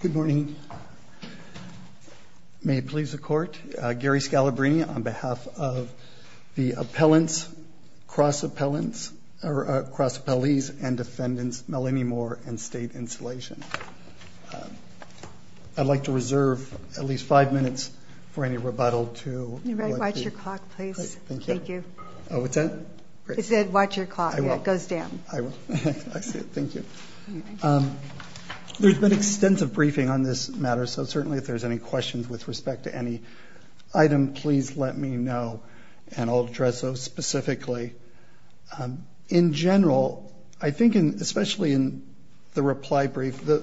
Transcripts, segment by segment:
Good morning. May it please the court, Gary Scalabrini on behalf of the appellants, cross appellants, cross appellees and defendants Melanie Moore and state insulation. I'd like to reserve at least five minutes for any rebuttal to watch your clock please. Thank you. Oh, what's that? It said watch your clock. It goes down. I will. Thank you. There's been extensive briefing on this matter so certainly if there's any questions with respect to any item please let me know and I'll address those specifically. In general, I think in especially in the reply brief, the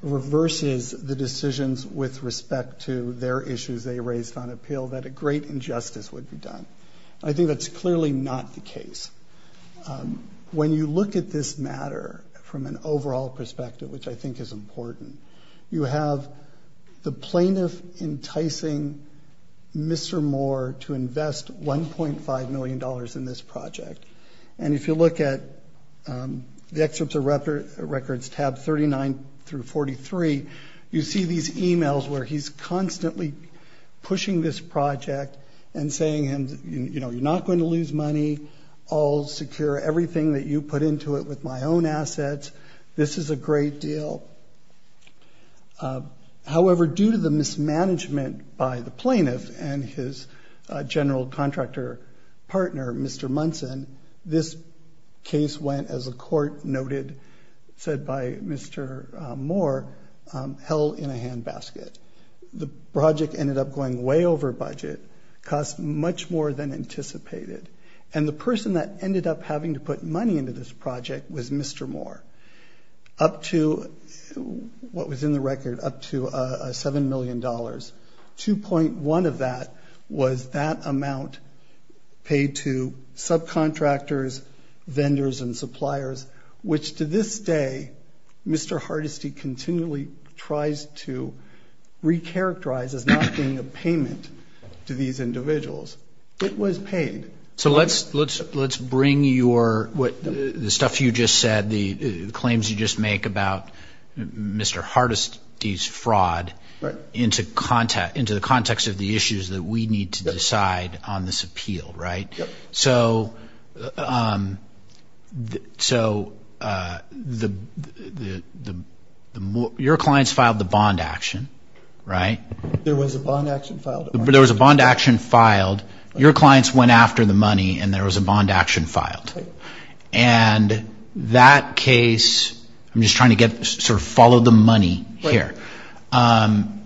reverses the decisions with respect to their issues they raised on appeal that a great injustice would be done. I think that's clearly not the case. When you look at this matter from an overall perspective, which I think is important, you have the plaintiff enticing Mr. Moore to invest 1.5 million dollars in this project and if you look at the excerpts of records tab 39 through 43, you see these emails where he's constantly pushing this project and saying and you know you're not going to lose money. I'll secure everything that you put into it with my own assets. This is a great deal. However, due to the mismanagement by the plaintiff and his general contractor partner, Mr. Munson, this case went as a court noted said by Mr. Moore, held in a handbasket. The project ended up going way over budget, cost much more than anticipated and the person that ended up having to put money into this project was Mr. Moore. Up to what was in the record up to a seven million dollars. 2.1 of that was that amount paid to subcontractors, vendors and suppliers which to this day Mr. Hardesty continually tries to recharacterize as not being a payment to these individuals. It was paid. So let's let's let's bring your what the stuff you just said the claims you just make about Mr. Hardesty's fraud into the context of the issues that we need to decide on this appeal, right? So your clients filed the bond action, right? There was a bond action filed. There was a bond action filed. Your clients went after the money and there was a bond action filed. And that case, I'm just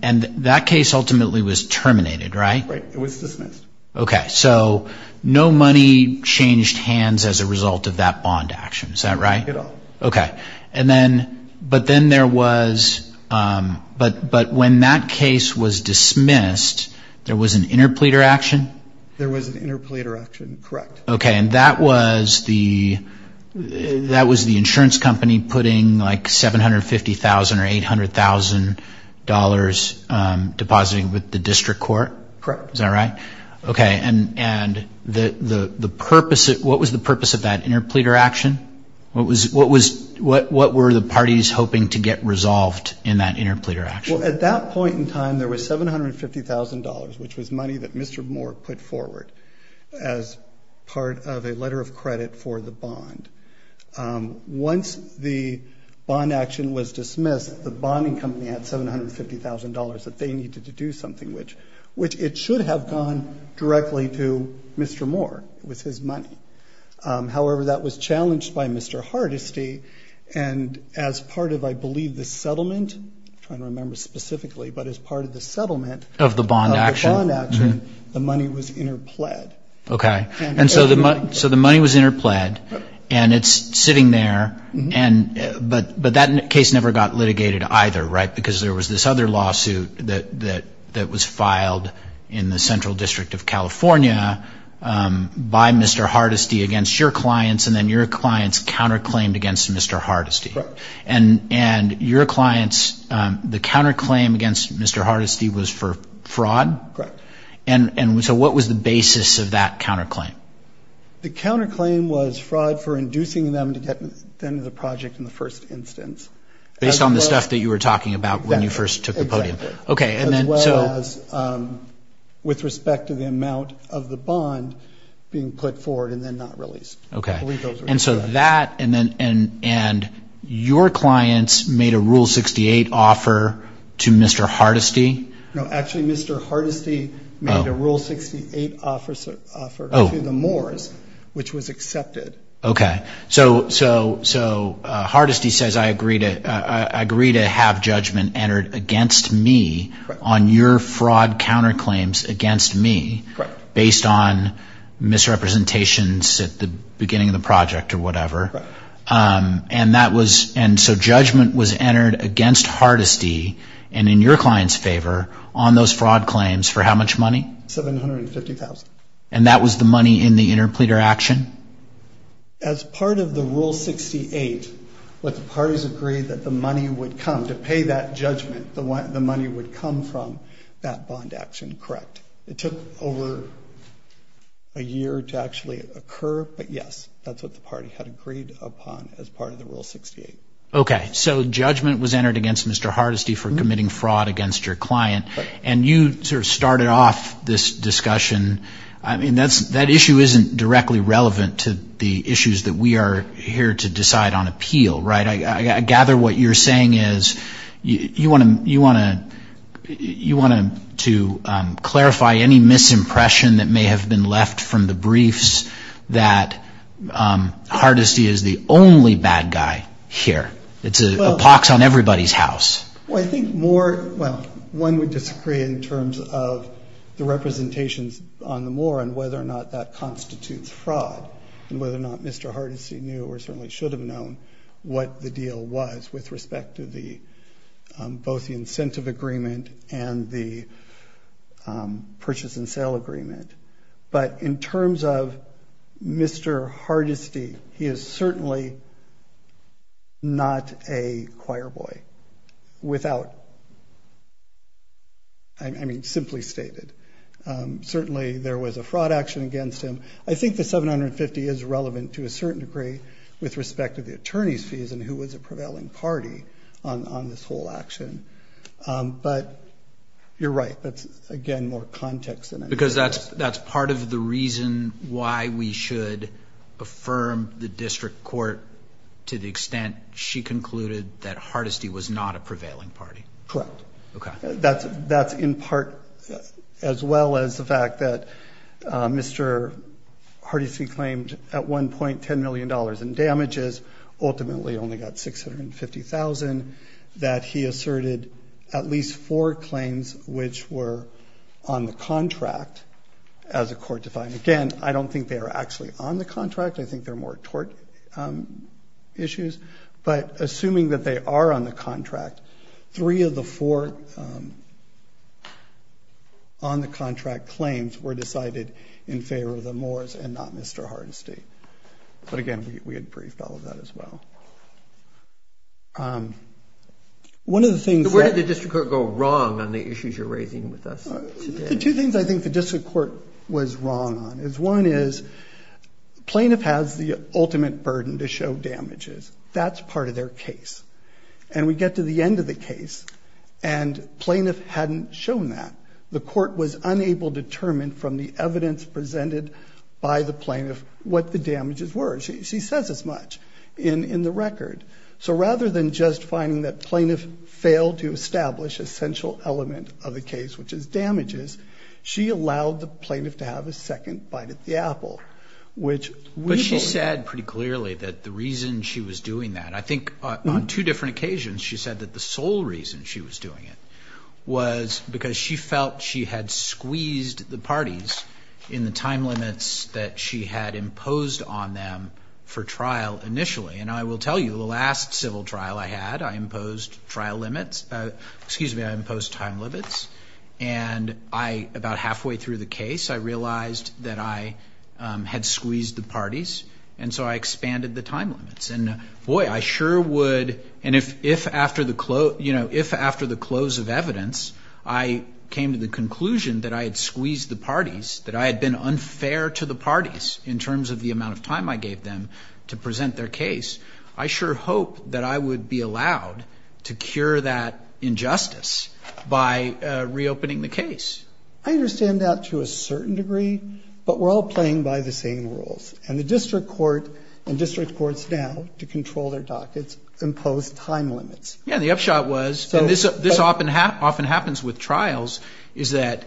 And that case ultimately was terminated, right? Right, it was dismissed. Okay, so no money changed hands as a result of that bond action, is that right? At all. Okay, and then but then there was but but when that case was dismissed there was an interpleader action? There was an interpleader action, correct. Okay, and that was the that was the insurance company putting like seven hundred fifty thousand or eight hundred thousand dollars depositing with the district court? Correct. Is that right? Okay, and and the the purpose it what was the purpose of that interpleader action? What was what was what what were the parties hoping to get resolved in that interpleader action? At that point in time there was seven hundred fifty thousand dollars which was money that Mr. Moore put forward as part of a letter of credit for the bond. Once the bond action was dismissed the bonding company had seven hundred fifty thousand dollars that they needed to do something which which it should have gone directly to Mr. Moore. It was his money. However, that was challenged by Mr. Hardesty and as part of I believe the settlement, I'm trying to remember specifically, but as part of the settlement of the bond action, the money was interpled. Okay, and so the money was interpled and it's sitting there and but that case never got litigated either, right? Because there was this other lawsuit that that that was filed in the Central District of California by Mr. Hardesty against your clients and then your clients counterclaimed against Mr. Hardesty. Correct. And and your clients the counterclaim against Mr. Hardesty was for fraud? Correct. And and so what was the basis of that counterclaim? The counterclaim was fraud for inducing them to get into the project in the first instance. Based on the stuff that you were talking about when you first took the podium. Okay, and then so. With respect to the amount of the bond being put forward and then not released. Okay, and so that and then and and your clients made a rule 68 offer to Mr. Hardesty? No, actually Mr. Hardesty made a rule 68 offer to the Moores, which was accepted. Okay, so so so Hardesty says I agree to I agree to have judgment entered against me on your fraud counterclaims against me based on misrepresentations at the beginning of the project or whatever. And that was and so judgment was entered against Hardesty and in your clients favor on those fraud claims for how much money? $750,000. And that was the money in the interpleader action? As part of the rule 68, what the parties agreed that the money would come to pay that judgment the one the money would come from that bond action, correct. It took over a year to actually occur, but yes that's what the party had agreed upon as part of the rule 68. Okay, so judgment was entered against Mr. Hardesty for committing fraud against your client and you sort of started off this discussion. I mean that's that issue isn't directly relevant to the issues that we are here to decide on appeal, right? I gather what you're saying is you want to want to you want to clarify any misimpression that may have been left from the briefs that Hardesty is the only bad guy here. It's a pox on everybody's house. Well I think more well one would disagree in terms of the representations on the moor and whether or not that constitutes fraud and whether or not Mr. Hardesty knew or certainly should have known what the deal was with respect to the both the incentive agreement and the purchase and sale agreement, but in terms of Mr. Hardesty, he is certainly not a choirboy without I mean simply stated. Certainly there was a fraud action against him. I think the 750 is relevant to a certain degree with respect to the attorney's fees and who was a prevailing party on this whole action, but you're right that's again more context. Because that's that's part of the reason why we should affirm the district court to the extent she concluded that Hardesty was not a prevailing party. Correct. That's in part as well as the fact that Mr. Hardesty claimed at 1.10 million dollars in damages ultimately only got 650,000 that he asserted at least four claims which were on the contract as a court defined. Again I don't think they are actually on the contract. I think they're more tort issues, but assuming that they are on the contract, three of the four on the contract claims were decided in favor of the moors and not Mr. Hardesty. But again we had briefed all of that as well. One of the things... Where did the district court go wrong on the issues you're raising with us? Two things I think the district court was wrong on is one is plaintiff has the ultimate burden to show damages. That's part of their case and we get to the end of the case and plaintiff hadn't shown that. The court was unable determined from the damages were. She says as much in the record. So rather than just finding that plaintiff failed to establish essential element of the case which is damages, she allowed the plaintiff to have a second bite at the apple which... But she said pretty clearly that the reason she was doing that, I think on two different occasions, she said that the sole reason she was doing it was because she felt she had squeezed the parties in the time limits that she had imposed on them for trial initially. And I will tell you the last civil trial I had I imposed trial limits, excuse me, I imposed time limits and I about halfway through the case I realized that I had squeezed the parties and so I expanded the time limits. And boy I sure would and if after the close, you know, if after the close of evidence I came to the conclusion that I had squeezed the parties, that I had been unfair to the parties in terms of the amount of time I gave them to present their case, I sure hope that I would be allowed to cure that injustice by reopening the case. I understand that to a certain degree but we're all playing by the same rules and the district court and district courts now to control their dockets impose time limits. Yeah the upshot was so this this often happens with trials is that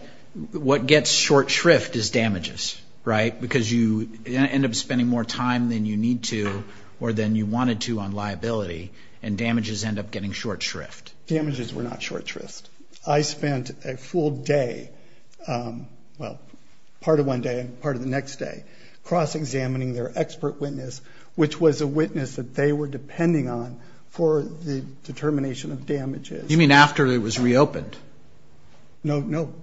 what gets short shrift is damages, right? Because you end up spending more time than you need to or than you wanted to on liability and damages end up getting short shrift. Damages were not short shrift. I spent a full day, well part of one day and part of the next day cross-examining their expert witness which was a witness that they were depending on for the determination of damages. You mean after it was reopened? No, no,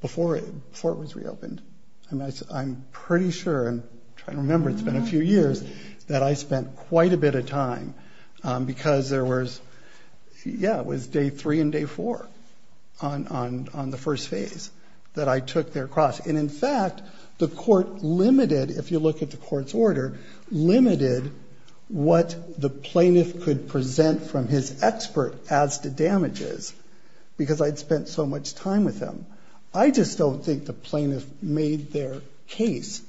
before it was reopened. I'm pretty sure, I'm trying to remember it's been a few years, that I spent quite a bit of time because there was, yeah it was day three and day four on the first phase that I took their cross. And in court limited, if you look at the court's order, limited what the plaintiff could present from his expert as to damages because I'd spent so much time with them. I just don't think the plaintiff made their case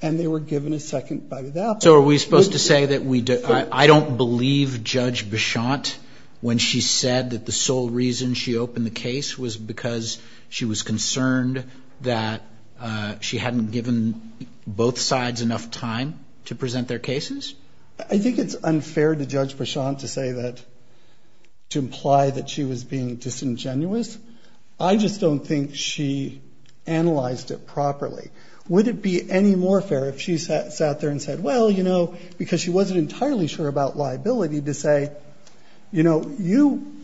and they were given a second bite of that. So are we supposed to say that we did, I don't believe Judge Bichotte when she said that the sole reason she opened the case was because she was concerned that she hadn't given both sides enough time to present their cases? I think it's unfair to Judge Bichotte to say that, to imply that she was being disingenuous. I just don't think she analyzed it properly. Would it be any more fair if she sat there and said well you know because she wasn't entirely sure about liability to say you know you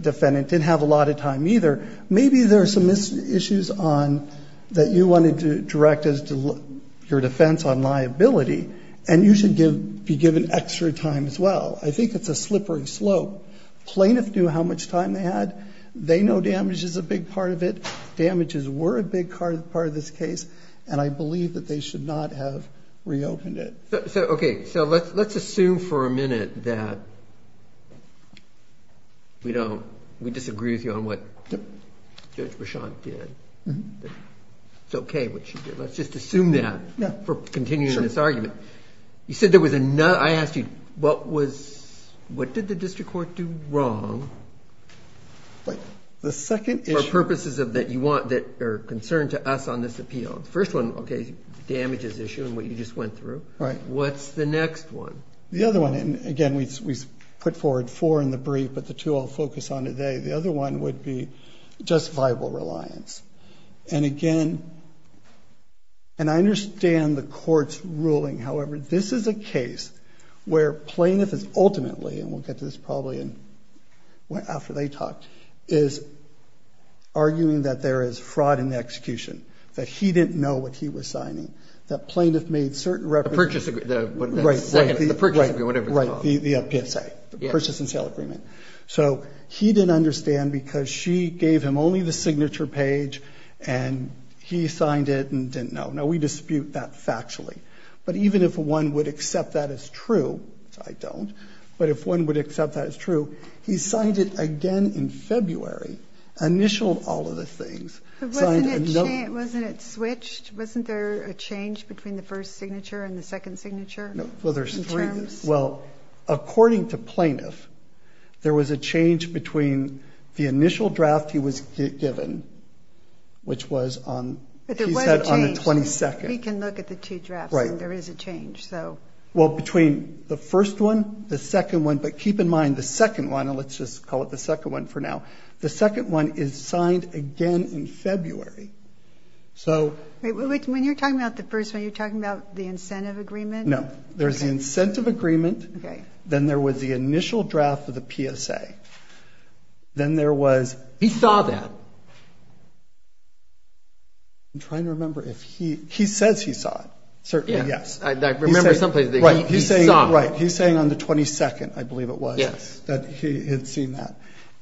defendant didn't have a liability. Maybe there are some issues on that you wanted to direct as to your defense on liability and you should give be given extra time as well. I think it's a slippery slope. Plaintiff knew how much time they had. They know damage is a big part of it. Damages were a big part of this case and I believe that they should not have reopened it. Okay so let's assume for a minute that we don't, we don't know what Judge Bichotte did. It's okay what she did. Let's just assume that for continuing this argument. You said there was another, I asked you what was, what did the district court do wrong for purposes of that you want that are concerned to us on this appeal? First one okay damage is issue and what you just went through. Right. What's the next one? The other one and again we put forward four in the brief but the two I'll focus on today. The other one would be just viable reliance and again and I understand the court's ruling however this is a case where plaintiff is ultimately and we'll get to this probably in, well after they talked, is arguing that there is fraud in the execution. That he didn't know what he was signing. That plaintiff made certain references. The purchase agreement. Right. The PSA. The purchase and sale agreement. So he didn't understand because she gave him only the signature page and he signed it and didn't know. Now we dispute that factually but even if one would accept that as true, I don't, but if one would accept that as true he signed it again in February, initialed all of the things. Wasn't it switched? Wasn't there a change between the first signature and the second signature? Well according to plaintiff there was a change between the initial draft he was given which was on the 22nd. We can look at the two drafts and there is a change. So well between the first one, the second one, but keep in mind the second one and let's just call it the second one for now. The second one is signed again in February. So when you're talking about the first one you're talking about the incentive agreement. Okay. Then there was the initial draft of the PSA. Then there was. He saw that. I'm trying to remember if he, he says he saw it. Certainly yes. I remember someplace. Right. He's saying on the 22nd I believe it was. Yes. That he had seen that.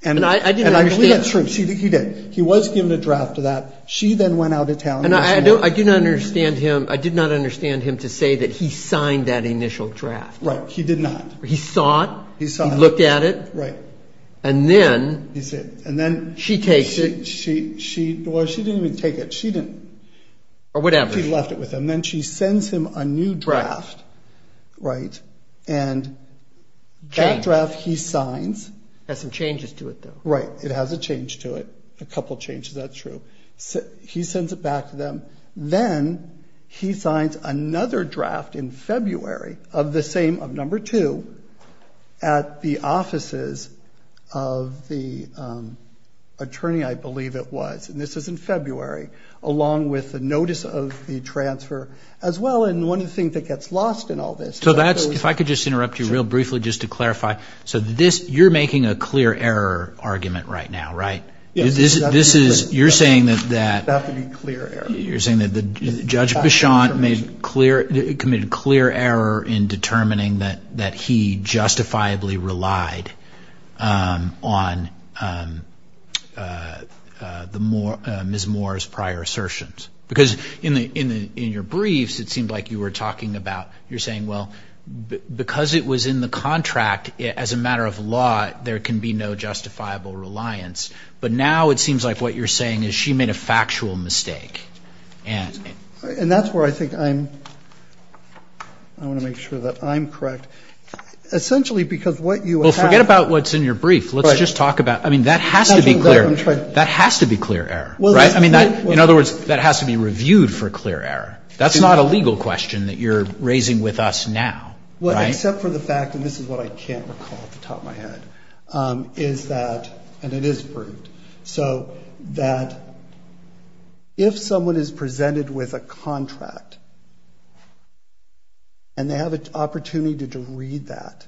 And I didn't. And I believe that's true. He did. He was given a draft of that. She then went out of town. And I don't, I do not understand him, I did not understand him to say that he signed that initial draft. Right. He did not. He saw it. He saw it. He looked at it. Right. And then. He said. And then. She takes it. She, she, well she didn't even take it. She didn't. Or whatever. She left it with him. Then she sends him a new draft. Right. And that draft he signs. Has some changes to it though. Right. It has a change to it. A couple changes. That's true. He sends it back to them. Then he signs another draft in February of the same, of number two, at the offices of the attorney I believe it was. And this is in February. Along with the notice of the transfer as well. And one of the things that gets lost in all this. So that's. If I could just interrupt you real briefly just to clarify. So this. You're making a clear error argument right now. Right. This is. You're saying that. That would be clear error. You're saying that the judge Bichon made clear. Committed clear error in determining that that he justifiably relied on the more Ms. Moore's prior assertions. Because in the in the in your briefs it seemed like you were talking about. You're saying well because it was in the contract as a matter of law there can be no justifiable reliance. But now it seems like what you're saying is she made a factual mistake. And that's where I think I'm. I want to make sure that I'm correct. Essentially because what you will forget about what's in your brief. Let's just talk about. I mean that has to be clear. That has to be clear error. Well right. I mean in other words that has to be reviewed for clear error. That's not a legal question that you're raising with us now. Well except for the fact that this is what I can't call at the top of my head. Is that. And it is proved. So that if someone is presented with a contract. And they have an opportunity to read that.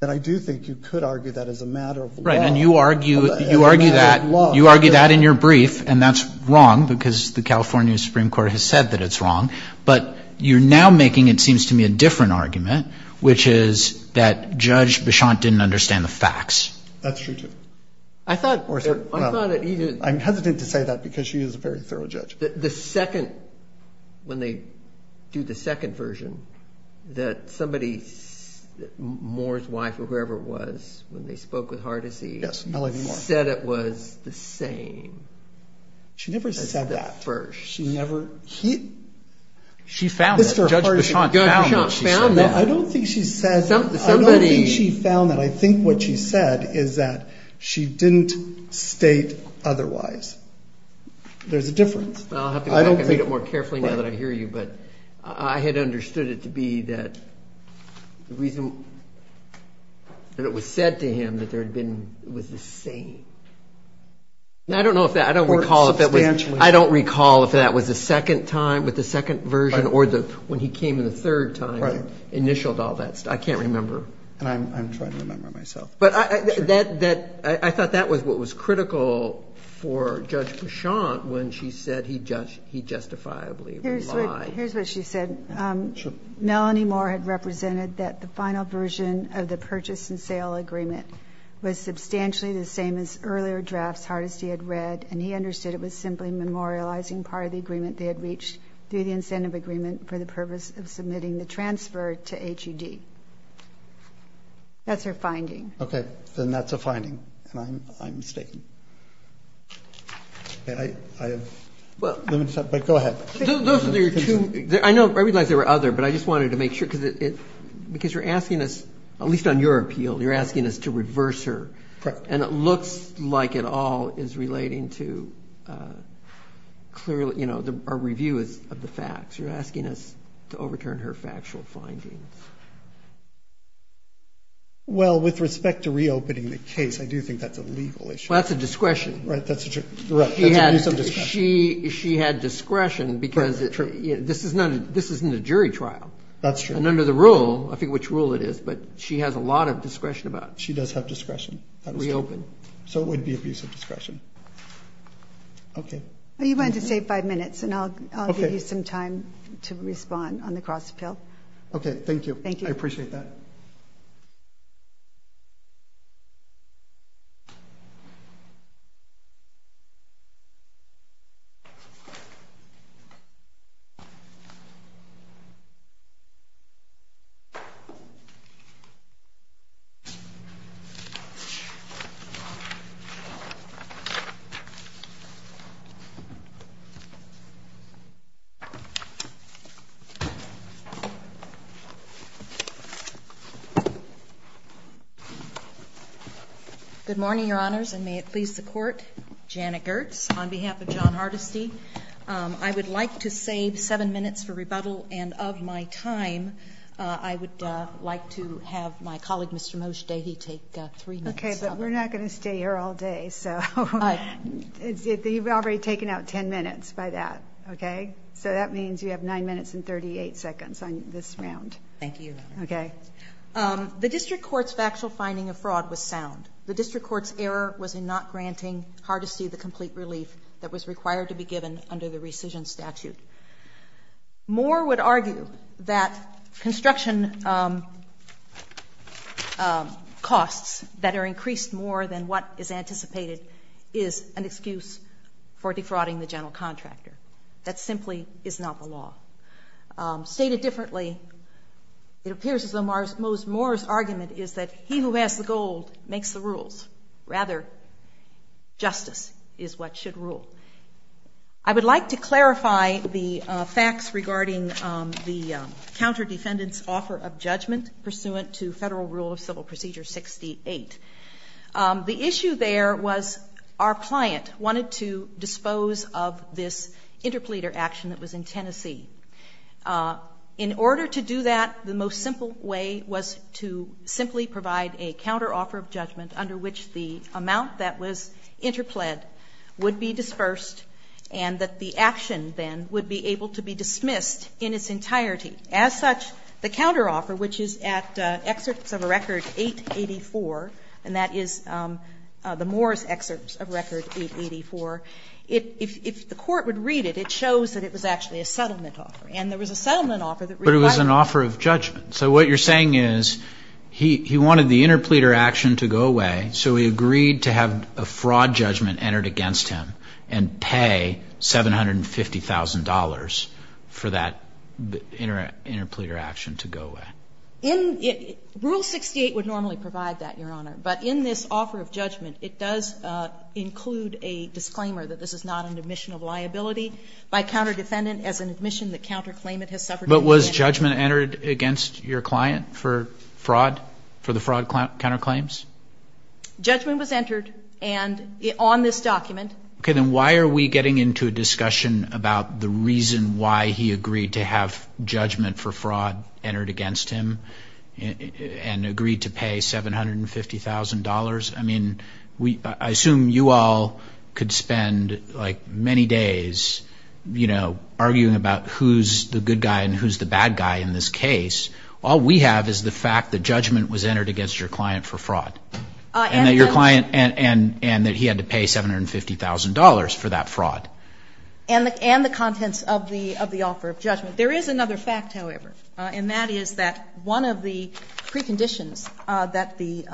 Then I do think you could argue that as a matter of law. Right. And you argue. You argue that. You argue that in your brief. And that's wrong because the California Supreme Court has said that it's wrong. But you're now making it seems to me a different argument. Which is that Judge Bichon didn't understand the facts. That's true too. I thought. I thought it either. I'm hesitant to say that because she is a very thorough judge. The second. When they do the second version. That somebody. Moore's wife or whoever it was. When they spoke with Hardisee. Yes Melanie Moore. Said it was the same. She never said that. At the first. She never. He. She found it. Judge Bichon found it. I don't think she says. Somebody. She found that. I think what she said. Is that. She didn't state otherwise. There's a difference. I don't think. I'll have to go back and read it more carefully now that I hear you. But. I had understood it to be that. The reason. That it was said to him. That there had been. It was the same. I don't know if that. I don't recall if that was. I don't recall if that was the second time. With the second version. Or the. When he came in the third time. Initialed all that stuff. I can't remember. And I'm. I'm trying to remember myself. But I. That. That. I thought that was what was critical for Judge Bichon when she said he just. He justifiably. Here's what she said. Melanie Moore had represented that the final version of the purchase and sale agreement was substantially the same as earlier drafts Hardisee had read and he understood it was simply memorializing part of the agreement they had reached through the incentive agreement for the purpose of submitting the transfer to H. U. D. That's her finding. Okay. Then that's a finding. And I'm. I'm mistaken. I have. Well. But go ahead. Those are your two. I know. I realize there were other. But I just wanted to make sure because it. Because you're asking us. At least on your appeal. You're asking us to reverse her. And it looks like it all is relating to. Clearly. You know. Our review is of the facts. You're asking us to overturn her facts. Well, with respect to reopening the case, I do think that's a legal issue. That's a discretion. Right. That's true. She had discretion because this is not. This isn't a jury trial. That's true. And under the rule, I think which rule it is. But she has a lot of discretion about. She does have discretion. Reopen. So it would be a piece of discretion. Okay. You want to save five minutes and I'll give you some time to respond on the cross appeal. Okay. Thank you. Thank you. I appreciate that. Good morning, Your Honors. And may it please the court. Janet Gertz on behalf of John Hardesty. I would like to save seven minutes for rebuttal. And of my time, I would like to have my colleague, Mr. Moshe Davey, take three minutes. Okay. But we're not going to stay here all day. So you've already taken out ten minutes by that. Okay. So that means you have nine minutes and 38 seconds on this round. Thank you. Okay. The district court's factual finding of fraud was sound. The district court's error was in not granting Hardesty the complete relief that was required to be given under the rescission statute. More would argue that construction costs that are increased more than what is anticipated is an excuse for defrauding the general contractor. That simply is not the law. Stated differently, it appears as though Moshe Moore's argument is that he who has the gold makes the rules. Rather, justice is what should rule. I would like to clarify the facts regarding the counter-defendant's offer of judgment pursuant to Federal Rule of Civil Procedure 68. The issue there was our client wanted to dispose of this interpleader action that was in Tennessee. In order to do that, the most simple way was to simply provide a counter-offer of judgment under which the amount that was interpled would be dispersed and that the action then would be able to be dismissed in its entirety. As such, the counter-offer, which is at excerpts of a record 884, and that is the Moore's excerpts of record 884, if the court would read it, it shows that it was actually a settlement offer. And there was a settlement offer that required that. But he wanted the interpleader action to go away, so he agreed to have a fraud judgment entered against him and pay $750,000 for that interpleader action to go away. Rule 68 would normally provide that, Your Honor. But in this offer of judgment, it does include a disclaimer that this is not an admission of liability by counter-defendant as an admission that counterclaimant has suffered. But was judgment entered against your client for fraud, for the fraud counterclaims? Judgment was entered on this document. Okay, then why are we getting into a discussion about the reason why he agreed to have judgment for fraud entered against him and agreed to pay $750,000? I mean, I assume you all could spend, like, many days, you know, arguing about who's the good guy and who's the bad guy in this case. All we have is the fact that judgment was entered against your client for fraud. And that your client and that he had to pay $750,000 for that fraud. And the contents of the offer of judgment. There is another fact, however, and that is that one of the preconditions that the,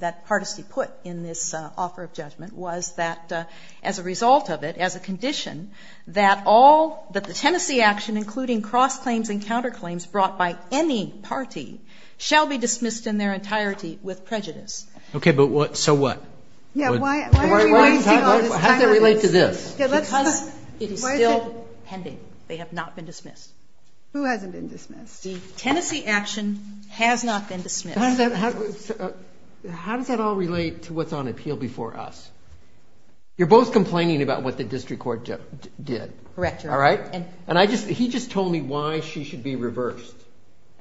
that Hardesty put in this offer of judgment was that as a result of it, as a condition, that all, that the Tennessee action, including cross-claims and counterclaims brought by any party, shall be dismissed in their entirety with prejudice. Okay, but what, so what? Yeah, why are we wasting all this time on this? How does that relate to this? Because it is still pending. They have not been dismissed. Who hasn't been dismissed? The Tennessee action has not been dismissed. How does that, how does that all relate to what's on appeal before us? You're both complaining about what the district court did. Correct, Your Honor. All right? And I just, he just told me why she should be reversed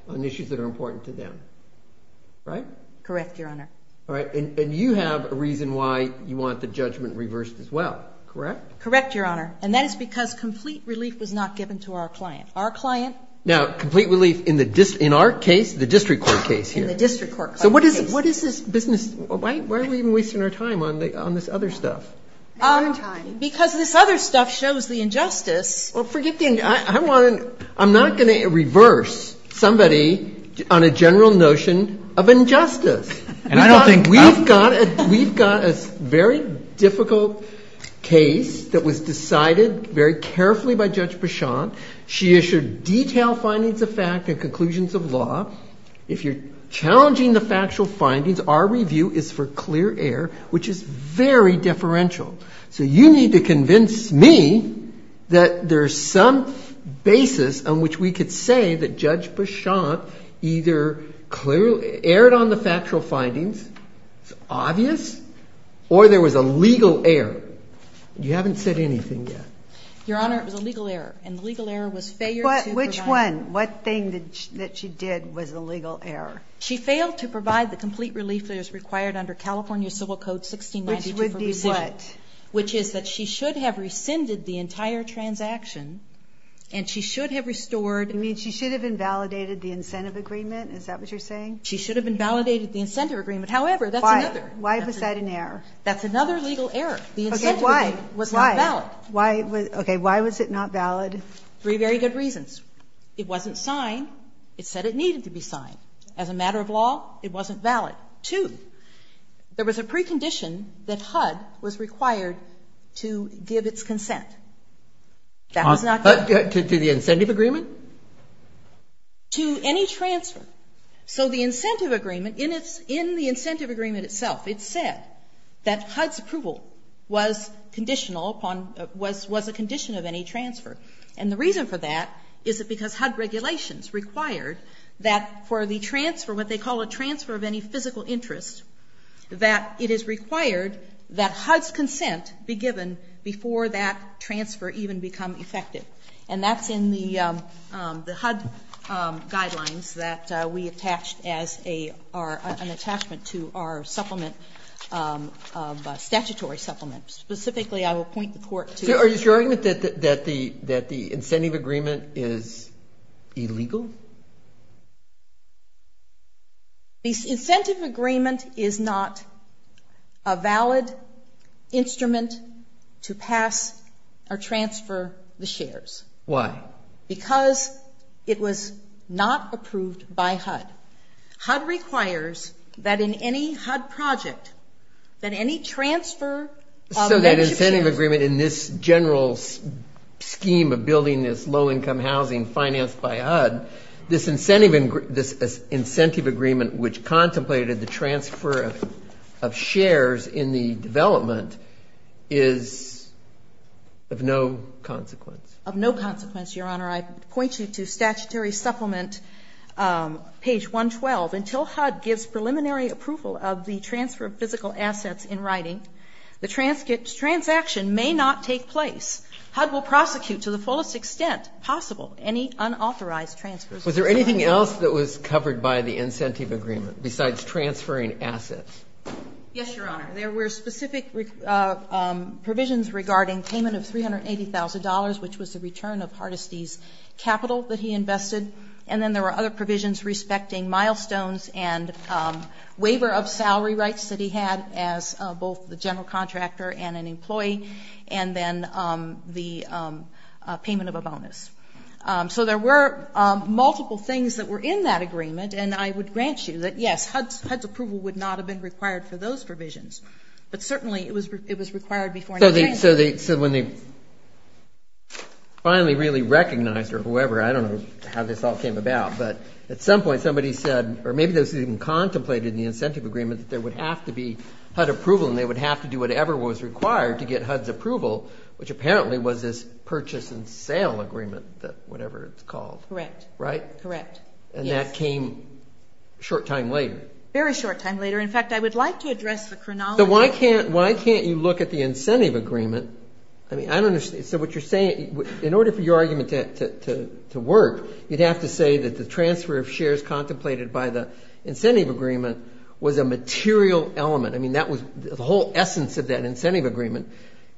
on issues that are important to them. Right? Correct, Your Honor. All right, and you have a reason why you want the judgment reversed as well, correct? Correct, Your Honor. And that is because complete relief was not given to our client. Our client. Now, complete relief in the, in our case, the district court case here. In the district court case. So what is, what is this business, why are we wasting our time on this other stuff? Because this other stuff shows the injustice. Well, forget the injustice. I want to, I'm not going to reverse somebody on a general notion of injustice. And I don't think. We've got a, we've got a very difficult case that was decided very carefully by Judge Bichon. She issued detailed findings of fact and conclusions of law. If you're challenging the factual findings, our review is for clear air, which is very differential. So you need to convince me that there's some basis on which we could say that Judge Bichon either clearly aired on the factual findings, it's obvious, or there was a legal error. You haven't said anything yet. Your Honor, it was a legal error. And the legal error was failure to provide. Which one? What thing that she did was a legal error? She failed to provide the complete relief that is required under California Civil Code 1692 for rescission. What? Which is that she should have rescinded the entire transaction, and she should have restored. You mean she should have invalidated the incentive agreement? Is that what you're saying? She should have invalidated the incentive agreement. However, that's another. Why? Why was that an error? That's another legal error. Okay, why? The incentive agreement was not valid. Why? Okay, why was it not valid? Three very good reasons. It wasn't signed. It said it needed to be signed. As a matter of law, it wasn't valid. Two, there was a precondition that HUD was required to give its consent. That was not valid. To the incentive agreement? To any transfer. So the incentive agreement, in the incentive agreement itself, it said that HUD's approval was conditional upon, was a condition of any transfer. And the reason for that is because HUD regulations required that for the transfer, what they call a transfer of any physical interest, that it is required that HUD's consent be given before that transfer even become effective. And that's in the HUD guidelines that we attached as an attachment to our supplement, statutory supplement. Specifically, I will point the Court to the statute. So is your argument that the incentive agreement is illegal? Two, the incentive agreement is not a valid instrument to pass or transfer the shares. Why? Because it was not approved by HUD. HUD requires that in any HUD project, that any transfer of membership shares. The incentive agreement in this general scheme of building this low-income housing financed by HUD, this incentive agreement which contemplated the transfer of shares in the development is of no consequence. Of no consequence, Your Honor. I point you to statutory supplement, page 112. Until HUD gives preliminary approval of the transfer of physical assets in writing, the transaction may not take place. HUD will prosecute to the fullest extent possible any unauthorized transfers. Was there anything else that was covered by the incentive agreement besides transferring assets? Yes, Your Honor. There were specific provisions regarding payment of $380,000, which was the return of Hardesty's capital that he invested. And then there were other provisions respecting milestones and waiver of salary rights that he had as both the general contractor and an employee. And then the payment of a bonus. So there were multiple things that were in that agreement. And I would grant you that, yes, HUD's approval would not have been required for those provisions. But certainly it was required before. So when they finally really recognized or whoever, I don't know how this all came about, but at some point somebody said, or maybe those who even contemplated the incentive agreement, that there would have to be HUD approval and they would have to do whatever was required to get HUD's approval, which apparently was this purchase and sale agreement, whatever it's called. Correct. Right? Correct. And that came a short time later. Very short time later. In fact, I would like to address the chronology. So why can't you look at the incentive agreement? I mean, I don't understand. So what you're saying, in order for your argument to work, you'd have to say that the material element, I mean, that was the whole essence of that incentive agreement,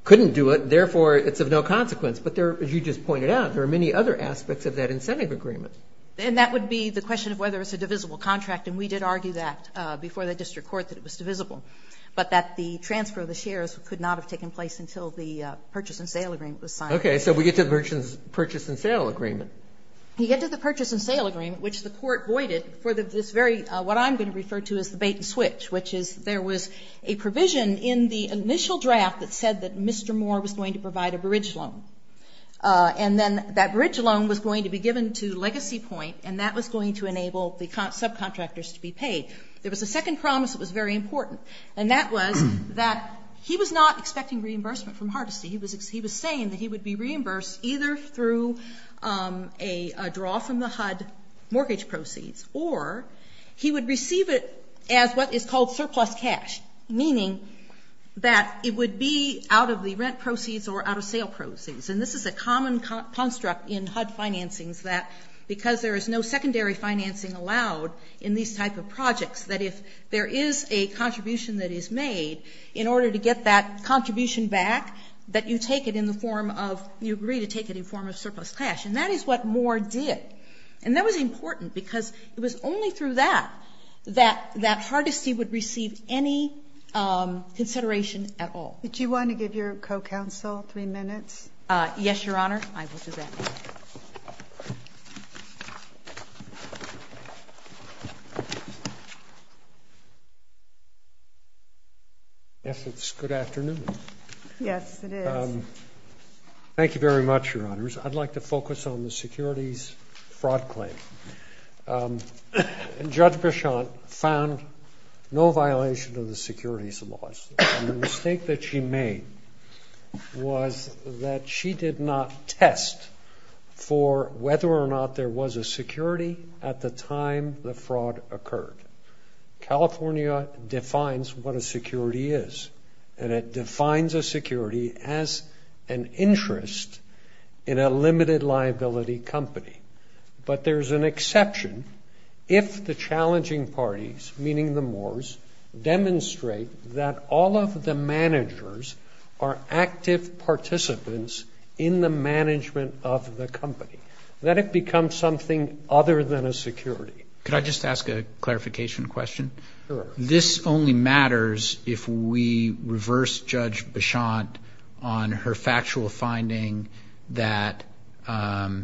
couldn't do it. Therefore, it's of no consequence. But there, as you just pointed out, there are many other aspects of that incentive agreement. And that would be the question of whether it's a divisible contract. And we did argue that before the district court, that it was divisible. But that the transfer of the shares could not have taken place until the purchase and sale agreement was signed. Okay. So we get to the purchase and sale agreement. You get to the purchase and sale agreement, which the court voided for this very, what I'm going to refer to as the bait and switch, which is there was a provision in the initial draft that said that Mr. Moore was going to provide a bridge loan. And then that bridge loan was going to be given to Legacy Point. And that was going to enable the subcontractors to be paid. There was a second promise that was very important. And that was that he was not expecting reimbursement from Hardesty. He was saying that he would be reimbursed either through a draw from the HUD mortgage proceeds, or he would receive it as what is called surplus cash, meaning that it would be out of the rent proceeds or out of sale proceeds. And this is a common construct in HUD financings, that because there is no secondary financing allowed in these type of projects, that if there is a contribution that is made, in order to get that contribution back, that you take it in the form of, you agree to take it in the form of surplus cash. And that is what Moore did. And that was important because it was only through that that Hardesty would receive any consideration at all. Do you want to give your co-counsel three minutes? Yes, Your Honor. I will do that. Yes, it's good afternoon. Yes, it is. Thank you very much, Your Honors. I'd like to focus on the securities fraud claim. Judge Bichon found no violation of the securities laws. The mistake that she made was that she did not test for whether or not there was a security at the time the fraud occurred. California defines what a security is. And it defines a security as an interest in a limited liability company. But there's an exception if the challenging parties, meaning the Moores, demonstrate that all of the managers are active participants in the management of the company, that it becomes something other than a security. Could I just ask a clarification question? Sure. This only matters if we reverse Judge Bichon on her factual finding that the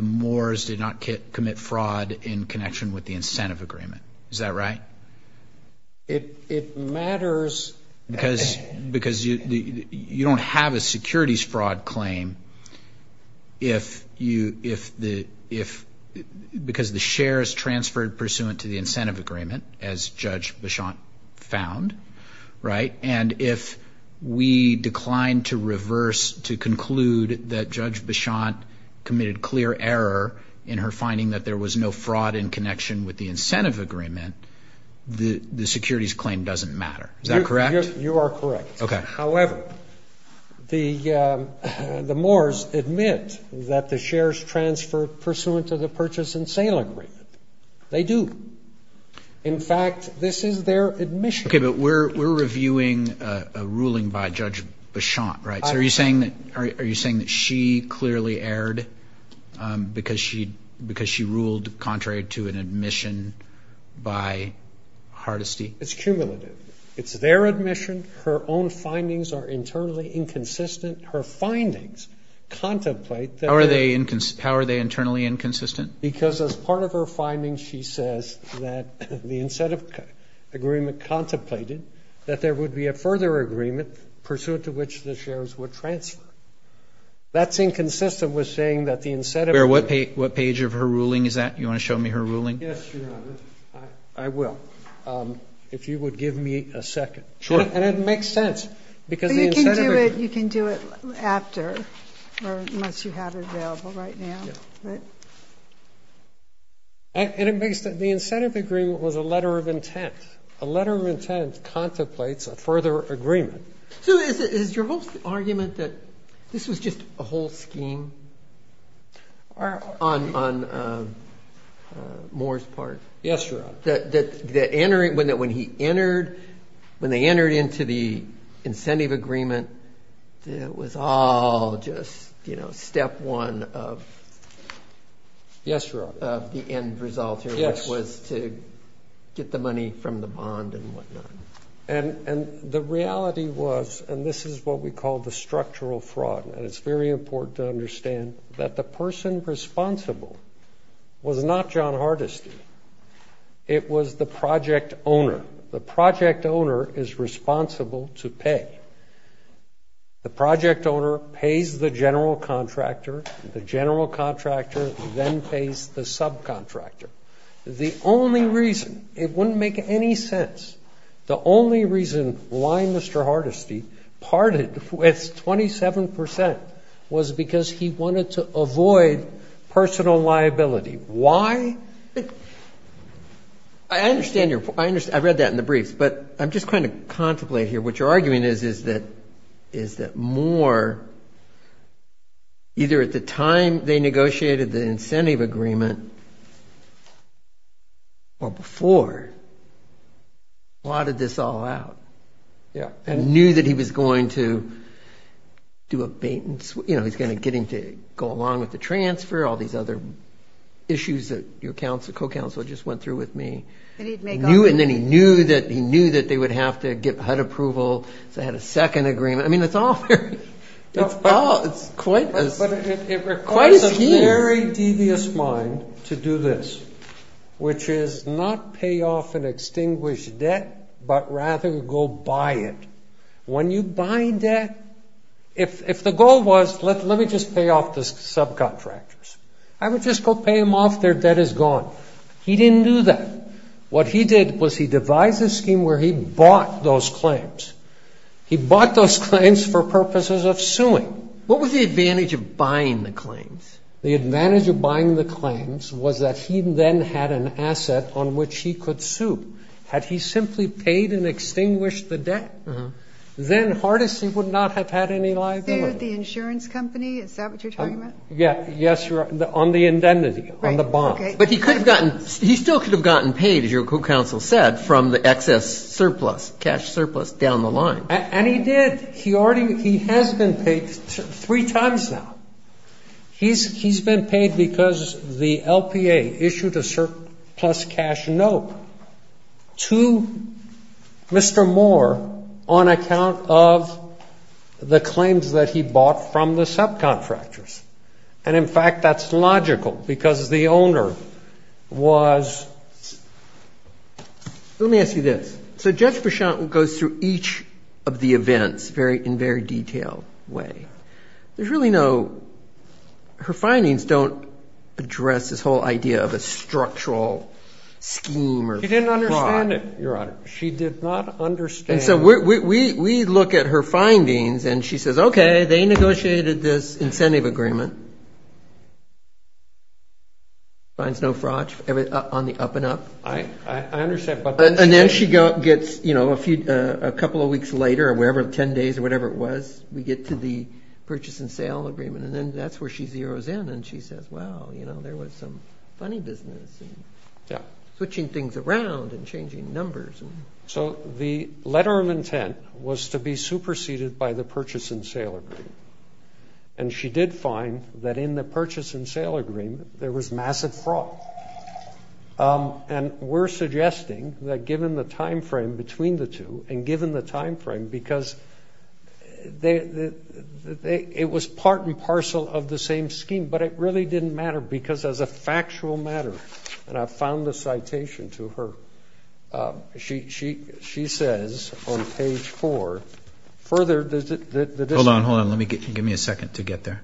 Moores did not commit fraud in connection with the incentive agreement. Is that right? It matters because you don't have a securities fraud claim because the share is transferred pursuant to the incentive agreement, as Judge Bichon found, right? And if we decline to reverse to conclude that Judge Bichon committed clear error in her finding that there was no incentive agreement, the securities claim doesn't matter. Is that correct? You are correct. Okay. However, the Moores admit that the shares transfer pursuant to the purchase and sale agreement. They do. In fact, this is their admission. Okay, but we're reviewing a ruling by Judge Bichon, right? So are you saying that she clearly erred because she ruled contrary to an admission by Hardesty? It's cumulative. It's their admission. Her own findings are internally inconsistent. Her findings contemplate that they are. How are they internally inconsistent? Because as part of her findings, she says that the incentive agreement contemplated that there would be a further agreement pursuant to which the shares would transfer. That's inconsistent with saying that the incentive agreement. What page of her ruling is that? Do you want to show me her ruling? Yes, Your Honor. I will. If you would give me a second. Sure. And it makes sense because the incentive agreement. You can do it after or unless you have it available right now. And it makes sense. The incentive agreement was a letter of intent. A letter of intent contemplates a further agreement. So is your whole argument that this was just a whole scheme on Moore's part? Yes, Your Honor. That when he entered, when they entered into the incentive agreement, it was all just, you know, step one of. Yes, Your Honor. Yes. And the reality was, and this is what we call the structural fraud, and it's very important to understand that the person responsible was not John Hardesty. It was the project owner. The project owner is responsible to pay. The project owner pays the general contractor. The general contractor then pays the subcontractor. The only reason, it wouldn't make any sense, the only reason why Mr. Hardesty parted with 27% was because he wanted to avoid personal liability. Why? I understand your point. I read that in the briefs, but I'm just trying to contemplate here. What you're arguing is that Moore, either at the time they negotiated the incentive agreement or before, plotted this all out and knew that he was going to do a bait-and-sweep. You know, he's going to get him to go along with the transfer, all these other issues that your co-counsel just went through with me. And then he knew that they would have to get HUD approval, so they had a second agreement. I mean, it's all very, it's quite a scheme. But it requires a very devious mind to do this, which is not pay off an extinguished debt, but rather go buy it. When you buy debt, if the goal was, let me just pay off the subcontractors, I would just go pay them off, their debt is gone. He didn't do that. What he did was he devised a scheme where he bought those claims. He bought those claims for purposes of suing. What was the advantage of buying the claims? The advantage of buying the claims was that he then had an asset on which he could sue. Had he simply paid and extinguished the debt, then Hardesty would not have had any liability. So the insurance company, is that what you're talking about? Yes, on the indemnity, on the bond. Okay. But he could have gotten, he still could have gotten paid, as your counsel said, from the excess surplus, cash surplus down the line. And he did. He already, he has been paid three times now. He's been paid because the LPA issued a surplus cash note to Mr. Moore on account of the claims that he bought from the subcontractors. And, in fact, that's logical because the owner was... Let me ask you this. So Judge Vershonten goes through each of the events in a very detailed way. There's really no, her findings don't address this whole idea of a structural scheme or fraud. She didn't understand it, Your Honor. She did not understand. And so we look at her findings and she says, okay, they negotiated this incentive agreement. Finds no fraud on the up and up. I understand. And then she gets, you know, a couple of weeks later or whatever, 10 days or whatever it was, we get to the purchase and sale agreement. And then that's where she zeroes in and she says, wow, you know, there was some funny business. Switching things around and changing numbers. So the letter of intent was to be superseded by the purchase and sale agreement. And she did find that in the purchase and sale agreement there was massive fraud. And we're suggesting that, given the time frame between the two and given the time frame because it was part and parcel of the same scheme, but it really didn't matter because as a factual matter, and I found the citation to her, she says on page four, further the district. Hold on, hold on. Give me a second to get there.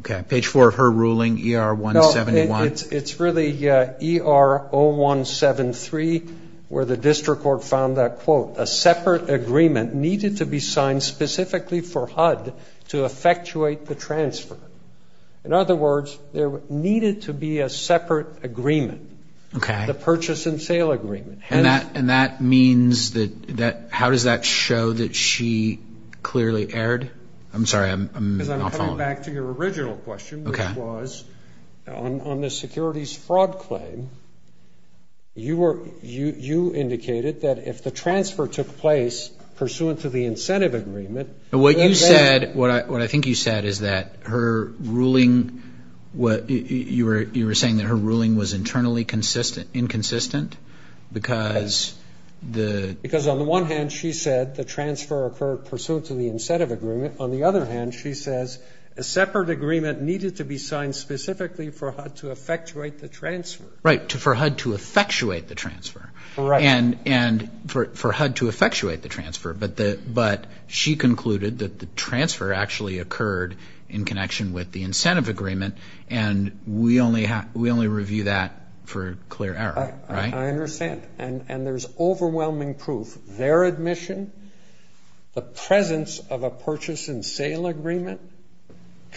Okay. Page four of her ruling, ER-171. It's really ER-0173 where the district court found that, quote, a separate agreement needed to be signed specifically for HUD to effectuate the transfer. In other words, there needed to be a separate agreement. Okay. The purchase and sale agreement. And that means that how does that show that she clearly erred? I'm sorry, I'm not following. Because I'm coming back to your original question, which was on the securities fraud claim, you indicated that if the transfer took place pursuant to the incentive agreement. What you said, what I think you said is that her ruling, you were saying that her ruling was internally inconsistent because the. Because on the one hand, she said the transfer occurred pursuant to the incentive agreement. On the other hand, she says a separate agreement needed to be signed specifically for HUD to effectuate the transfer. Right, for HUD to effectuate the transfer. Right. And for HUD to effectuate the transfer. But she concluded that the transfer actually occurred in connection with the incentive agreement. And we only review that for clear error. I understand. And there's overwhelming proof. Their admission, the presence of a purchase and sale agreement,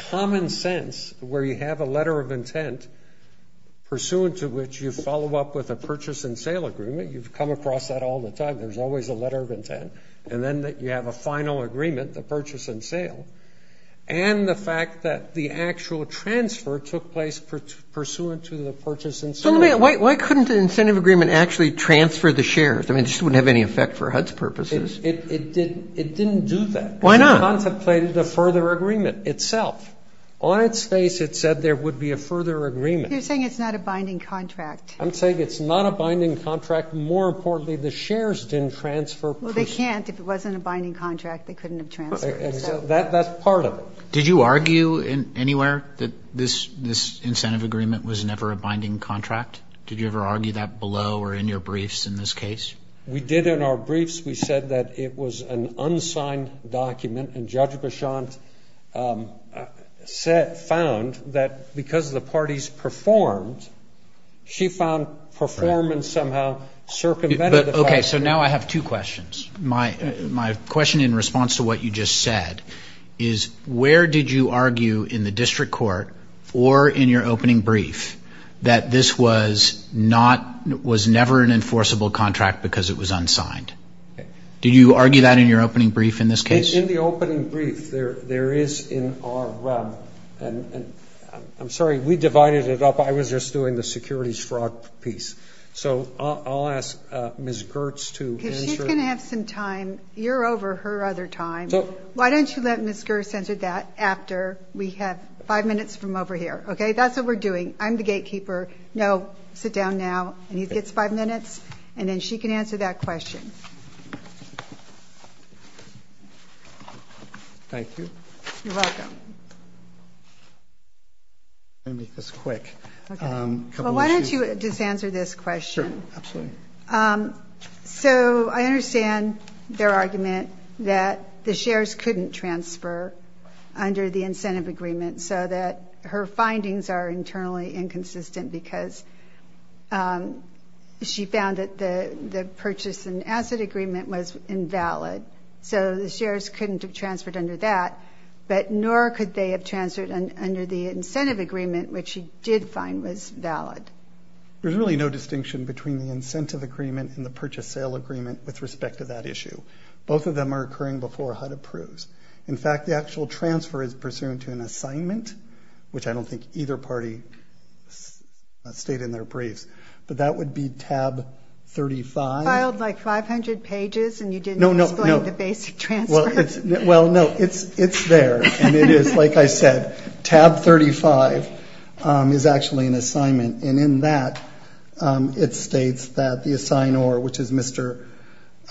common sense where you have a letter of intent pursuant to which you follow up with a purchase and sale agreement. You've come across that all the time. There's always a letter of intent. And then you have a final agreement, the purchase and sale. And the fact that the actual transfer took place pursuant to the purchase and sale. So why couldn't the incentive agreement actually transfer the shares? I mean, it just wouldn't have any effect for HUD's purposes. It didn't do that. Why not? Because she contemplated a further agreement itself. On its face, it said there would be a further agreement. You're saying it's not a binding contract. I'm saying it's not a binding contract. More importantly, the shares didn't transfer. Well, they can't. If it wasn't a binding contract, they couldn't have transferred. That's part of it. Did you argue anywhere that this incentive agreement was never a binding contract? Did you ever argue that below or in your briefs in this case? We did in our briefs. We said that it was an unsigned document. And Judge Beauchamp found that because the parties performed, she found performance somehow circumvented the fact. Okay. So now I have two questions. My question in response to what you just said is where did you argue in the district court or in your opening brief that this was never an enforceable contract because it was unsigned? Did you argue that in your opening brief in this case? In the opening brief, there is in our REM, and I'm sorry, we divided it up. I was just doing the securities fraud piece. So I'll ask Ms. Gertz to answer. She's going to have some time. You're over her other time. Why don't you let Ms. Gertz answer that after we have five minutes from over here. Okay? That's what we're doing. I'm the gatekeeper. No, sit down now. And he gets five minutes, and then she can answer that question. You're welcome. Let me make this quick. Well, why don't you just answer this question. Sure, absolutely. So I understand their argument that the shares couldn't transfer under the incentive agreement so that her findings are internally inconsistent because she found that the purchase and asset agreement was invalid. So the shares couldn't have transferred under that, but nor could they have transferred under the incentive agreement, which she did find was valid. There's really no distinction between the incentive agreement and the purchase-sale agreement with respect to that issue. Both of them are occurring before HUD approves. In fact, the actual transfer is pursuant to an assignment, which I don't think either party stated in their briefs, but that would be tab 35. You filed, like, 500 pages, and you didn't explain the basic transfer. Well, no, it's there, and it is, like I said. Tab 35 is actually an assignment, and in that it states that the assignor, which is Mr.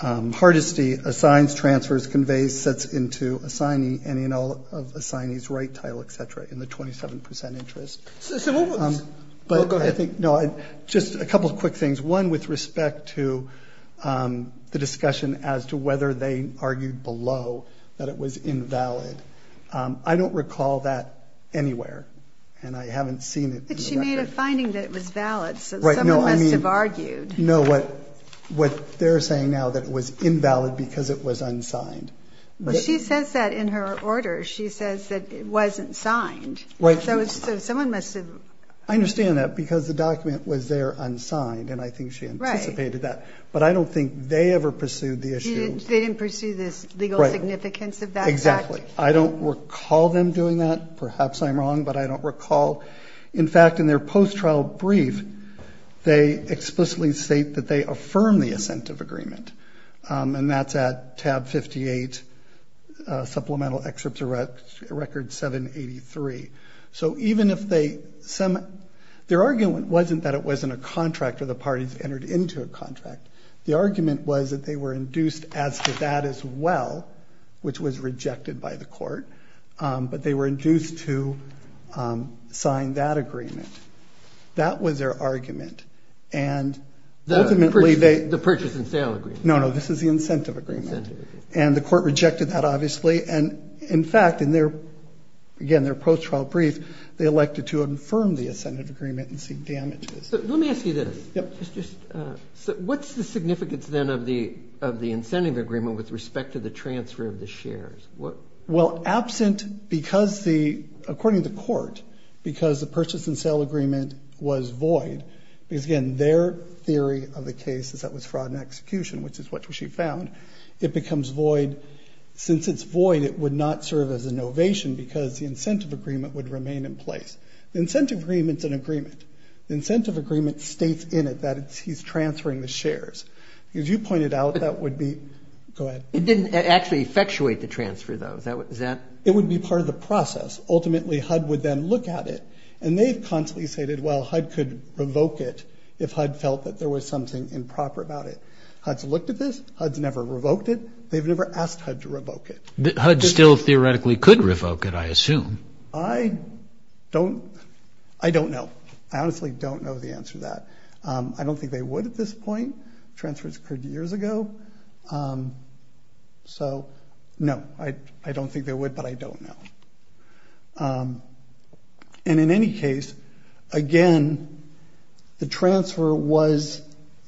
Hardesty, assigns, transfers, conveys, sets into assignee, and in all of assignee's right title, et cetera, in the 27 percent interest. So what was the question? No, just a couple of quick things. One with respect to the discussion as to whether they argued below that it was invalid. I don't recall that anywhere, and I haven't seen it in the record. But she made a finding that it was valid, so someone must have argued. No, what they're saying now that it was invalid because it was unsigned. She says that in her order. She says that it wasn't signed. Right. So someone must have. I understand that because the document was there unsigned, and I think she anticipated that. But I don't think they ever pursued the issue. They didn't pursue the legal significance of that fact? Exactly. I don't recall them doing that. Perhaps I'm wrong, but I don't recall. In fact, in their post-trial brief, they explicitly state that they affirm the assent of agreement, and that's at tab 58, supplemental excerpts record 783. So even if they semi--. Their argument wasn't that it wasn't a contract or the parties entered into a contract. The argument was that they were induced as to that as well, which was rejected by the court, but they were induced to sign that agreement. That was their argument. And ultimately they. The purchase and sale agreement. No, no, this is the incentive agreement. And the court rejected that, obviously. And, in fact, in their, again, their post-trial brief, they elected to affirm the assented agreement and seek damages. Let me ask you this. Yep. What's the significance then of the incentive agreement with respect to the transfer of the shares? Well, absent because the, according to court, because the purchase and sale agreement was void, because, again, their theory of the case is that was fraud and execution, which is what she found. It becomes void. Since it's void, it would not serve as an ovation because the incentive agreement would remain in place. The incentive agreement's an agreement. The incentive agreement states in it that he's transferring the shares. As you pointed out, that would be. Go ahead. It didn't actually effectuate the transfer, though, is that. It would be part of the process. Ultimately, HUD would then look at it. And they've constantly stated, well, HUD could revoke it if HUD felt that there was something improper about it. HUD's looked at this. HUD's never revoked it. They've never asked HUD to revoke it. HUD still theoretically could revoke it, I assume. I don't. I don't know. I honestly don't know the answer to that. I don't think they would at this point. Transfers occurred years ago. So, no, I don't think they would, but I don't know. And in any case, again, the transfer was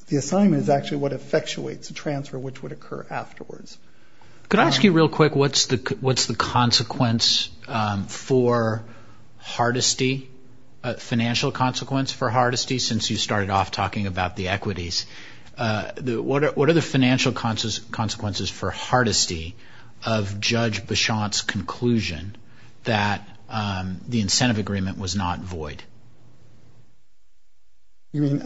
the assignment is actually what effectuates the transfer, which would occur afterwards. Could I ask you real quick, what's the consequence for Hardesty, financial consequence for Hardesty, since you started off talking about the equities? What are the financial consequences for Hardesty of Judge Bichon's conclusion that the incentive agreement was not void? You mean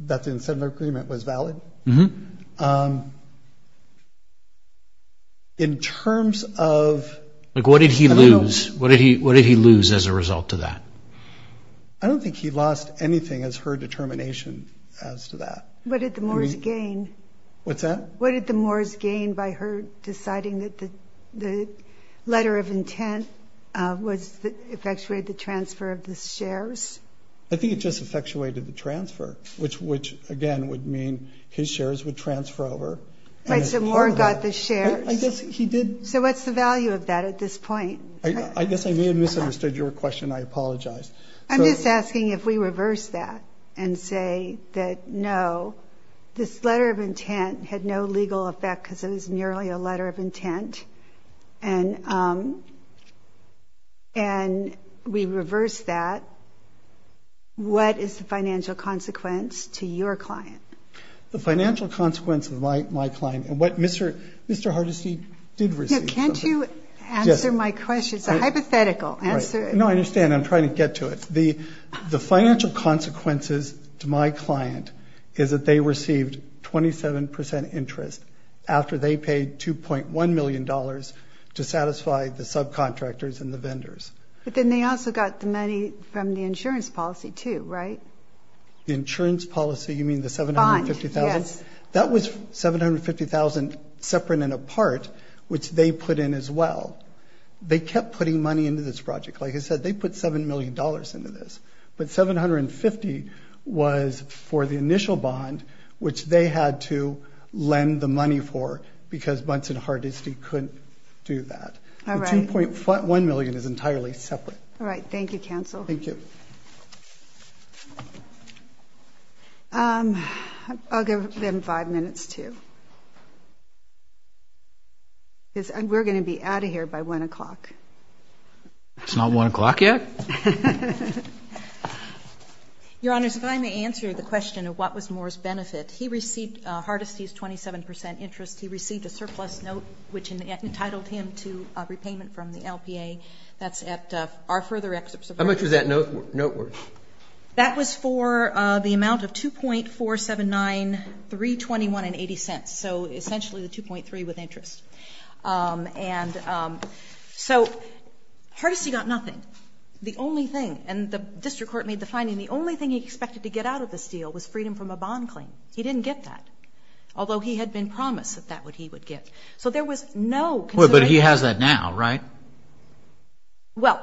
that the incentive agreement was valid? Mm-hmm. In terms of – What did he lose? What did he lose as a result of that? I don't think he lost anything as her determination as to that. What did the Moores gain? What's that? What did the Moores gain by her deciding that the letter of intent was – effectuated the transfer of the shares? I think it just effectuated the transfer, which, again, would mean his shares would transfer over. So Moore got the shares? I guess he did. So what's the value of that at this point? I guess I may have misunderstood your question. I apologize. I'm just asking if we reverse that and say that, no, this letter of intent had no legal effect because it was merely a letter of intent, and we reverse that, what is the financial consequence to your client? The financial consequence of my client and what Mr. Hardesty did receive. Can't you answer my question? It's a hypothetical. No, I understand. I'm trying to get to it. The financial consequences to my client is that they received 27 percent interest after they paid $2.1 million to satisfy the subcontractors and the vendors. But then they also got the money from the insurance policy, too, right? The insurance policy, you mean the $750,000? Yes. That was $750,000 separate and apart, which they put in as well. They kept putting money into this project. Like I said, they put $7 million into this. But $750,000 was for the initial bond, which they had to lend the money for because Bunts and Hardesty couldn't do that. All right. The $2.1 million is entirely separate. All right. Thank you, counsel. Thank you. I'll give them five minutes, too. We're going to be out of here by 1 o'clock. It's not 1 o'clock yet? Your Honors, if I may answer the question of what was Moore's benefit. He received Hardesty's 27 percent interest. He received a surplus note, which entitled him to repayment from the LPA. That's at our further excerpts. How much was that note worth? That was for the amount of $2.479,321.80, so essentially the 2.3 with interest. And so Hardesty got nothing. The only thing, and the district court made the finding the only thing he expected to get out of this deal was freedom from a bond claim. He didn't get that, although he had been promised that that's what he would get. So there was no consideration. But he has that now, right? Well,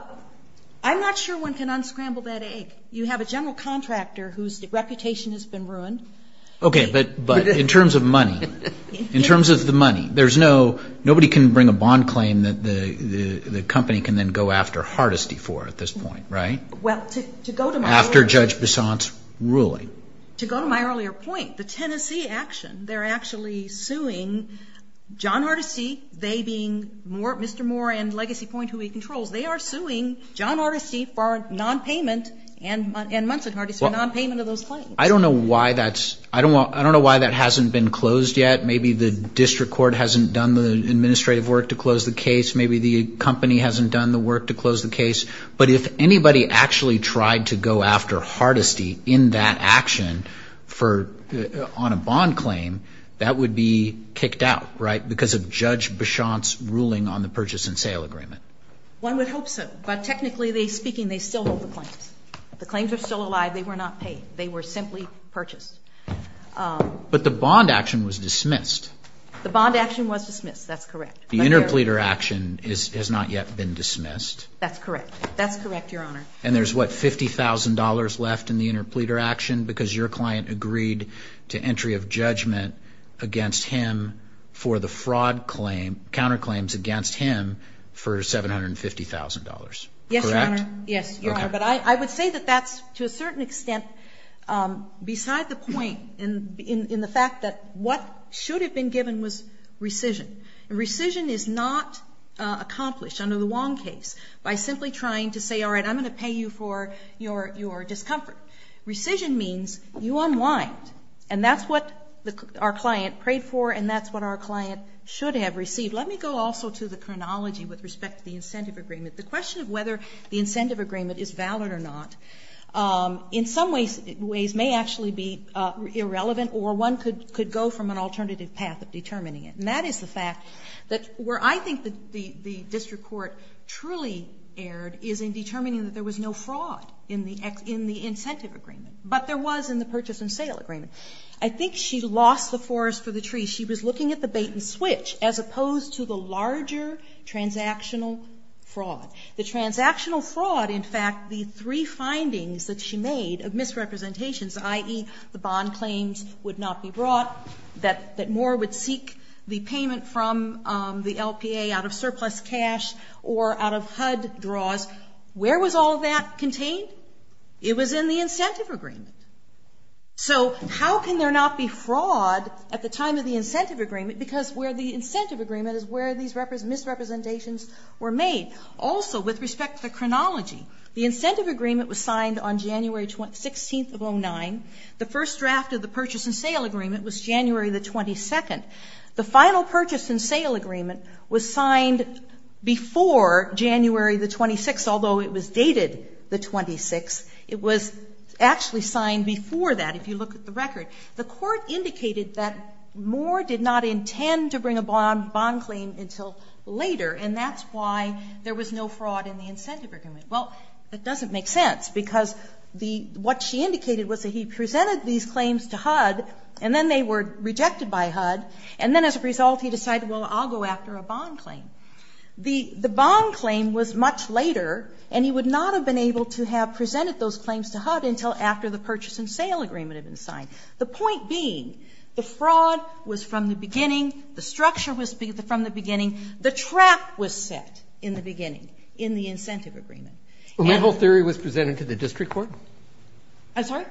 I'm not sure one can unscramble that egg. You have a general contractor whose reputation has been ruined. Okay, but in terms of money, in terms of the money, nobody can bring a bond claim that the company can then go after Hardesty for at this point, right? Well, to go to my earlier point. After Judge Besant's ruling. To go to my earlier point, the Tennessee action, they're actually suing John Hardesty, they being Mr. Moore and Legacy Point, who he controls. They are suing John Hardesty for nonpayment and Munson Hardesty for nonpayment of those claims. I don't know why that hasn't been closed yet. Maybe the district court hasn't done the administrative work to close the case. Maybe the company hasn't done the work to close the case. But if anybody actually tried to go after Hardesty in that action on a bond claim, that would be kicked out, right? Because of Judge Besant's ruling on the purchase and sale agreement. One would hope so, but technically speaking, they still hold the claims. The claims are still alive. They were not paid. They were simply purchased. But the bond action was dismissed. The bond action was dismissed. That's correct. The interpleader action has not yet been dismissed. That's correct. That's correct, Your Honor. And there's, what, $50,000 left in the interpleader action because your client agreed to entry of judgment against him for the counterclaims against him for $750,000, correct? Yes, Your Honor. Yes, Your Honor. But I would say that that's, to a certain extent, beside the point in the fact that what should have been given was rescission. And rescission is not accomplished under the Wong case by simply trying to say, all right, I'm going to pay you for your discomfort. Rescission means you unwind, and that's what our client prayed for and that's what our client should have received. Let me go also to the chronology with respect to the incentive agreement. The question of whether the incentive agreement is valid or not in some ways may actually be irrelevant or one could go from an alternative path of determining it. And that is the fact that where I think the district court truly erred is in determining that there was no fraud in the incentive agreement. But there was in the purchase and sale agreement. I think she lost the forest for the tree. She was looking at the bait and switch as opposed to the larger transactional fraud. The transactional fraud, in fact, the three findings that she made of misrepresentations, i.e., the bond claims would not be brought, that Moore would seek the payment from the LPA out of surplus cash or out of HUD draws. Where was all of that contained? It was in the incentive agreement. So how can there not be fraud at the time of the incentive agreement because where the incentive agreement is where these misrepresentations were made. Also, with respect to the chronology, the incentive agreement was signed on January 16th of 2009. The first draft of the purchase and sale agreement was January the 22nd. The final purchase and sale agreement was signed before January the 26th, although it was dated the 26th. It was actually signed before that if you look at the record. The court indicated that Moore did not intend to bring a bond claim until later, and that's why there was no fraud in the incentive agreement. Well, it doesn't make sense because what she indicated was that he presented these claims to HUD, and then they were rejected by HUD, and then as a result he decided, well, I'll go after a bond claim. The bond claim was much later, and he would not have been able to have presented those claims to HUD until after the purchase and sale agreement had been signed. The point being, the fraud was from the beginning, the structure was from the beginning, the trap was set in the beginning in the incentive agreement. I'm sorry?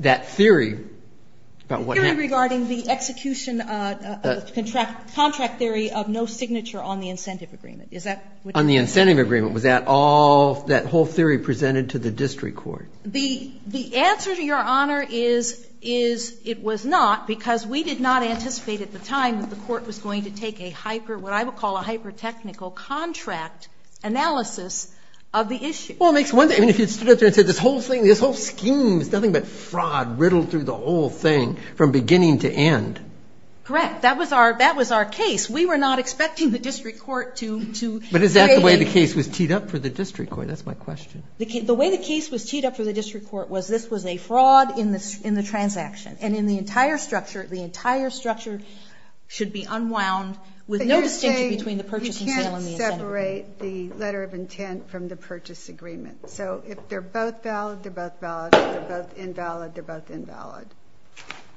That theory about what happened. The theory regarding the execution of contract theory of no signature on the incentive agreement. Is that what you're saying? On the incentive agreement. Was that all, that whole theory presented to the district court? The answer, Your Honor, is it was not because we did not anticipate at the time that the court was going to take a hyper, what I would call a hyper-technical contract analysis of the issue. Well, if you stood up there and said this whole scheme is nothing but fraud riddled through the whole thing from beginning to end. Correct. That was our case. We were not expecting the district court to create a... But is that the way the case was teed up for the district court? That's my question. The way the case was teed up for the district court was this was a fraud in the transaction, and in the entire structure, the entire structure should be unwound with no distinction between the purchase and sale and the incentive agreement. And that would separate the letter of intent from the purchase agreement. So if they're both valid, they're both valid. If they're both invalid, they're both invalid.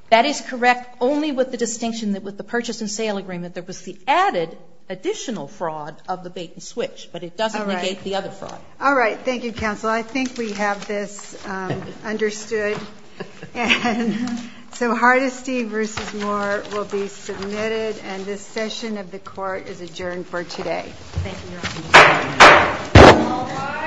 That is correct, only with the distinction that with the purchase and sale agreement there was the added additional fraud of the bait and switch, but it doesn't negate the other fraud. All right. Thank you, counsel. I think we have this understood. And so Hardesty v. Moore will be submitted, and this session of the court is adjourned for today. Thank you, Your Honor. Thank you, Your Honor.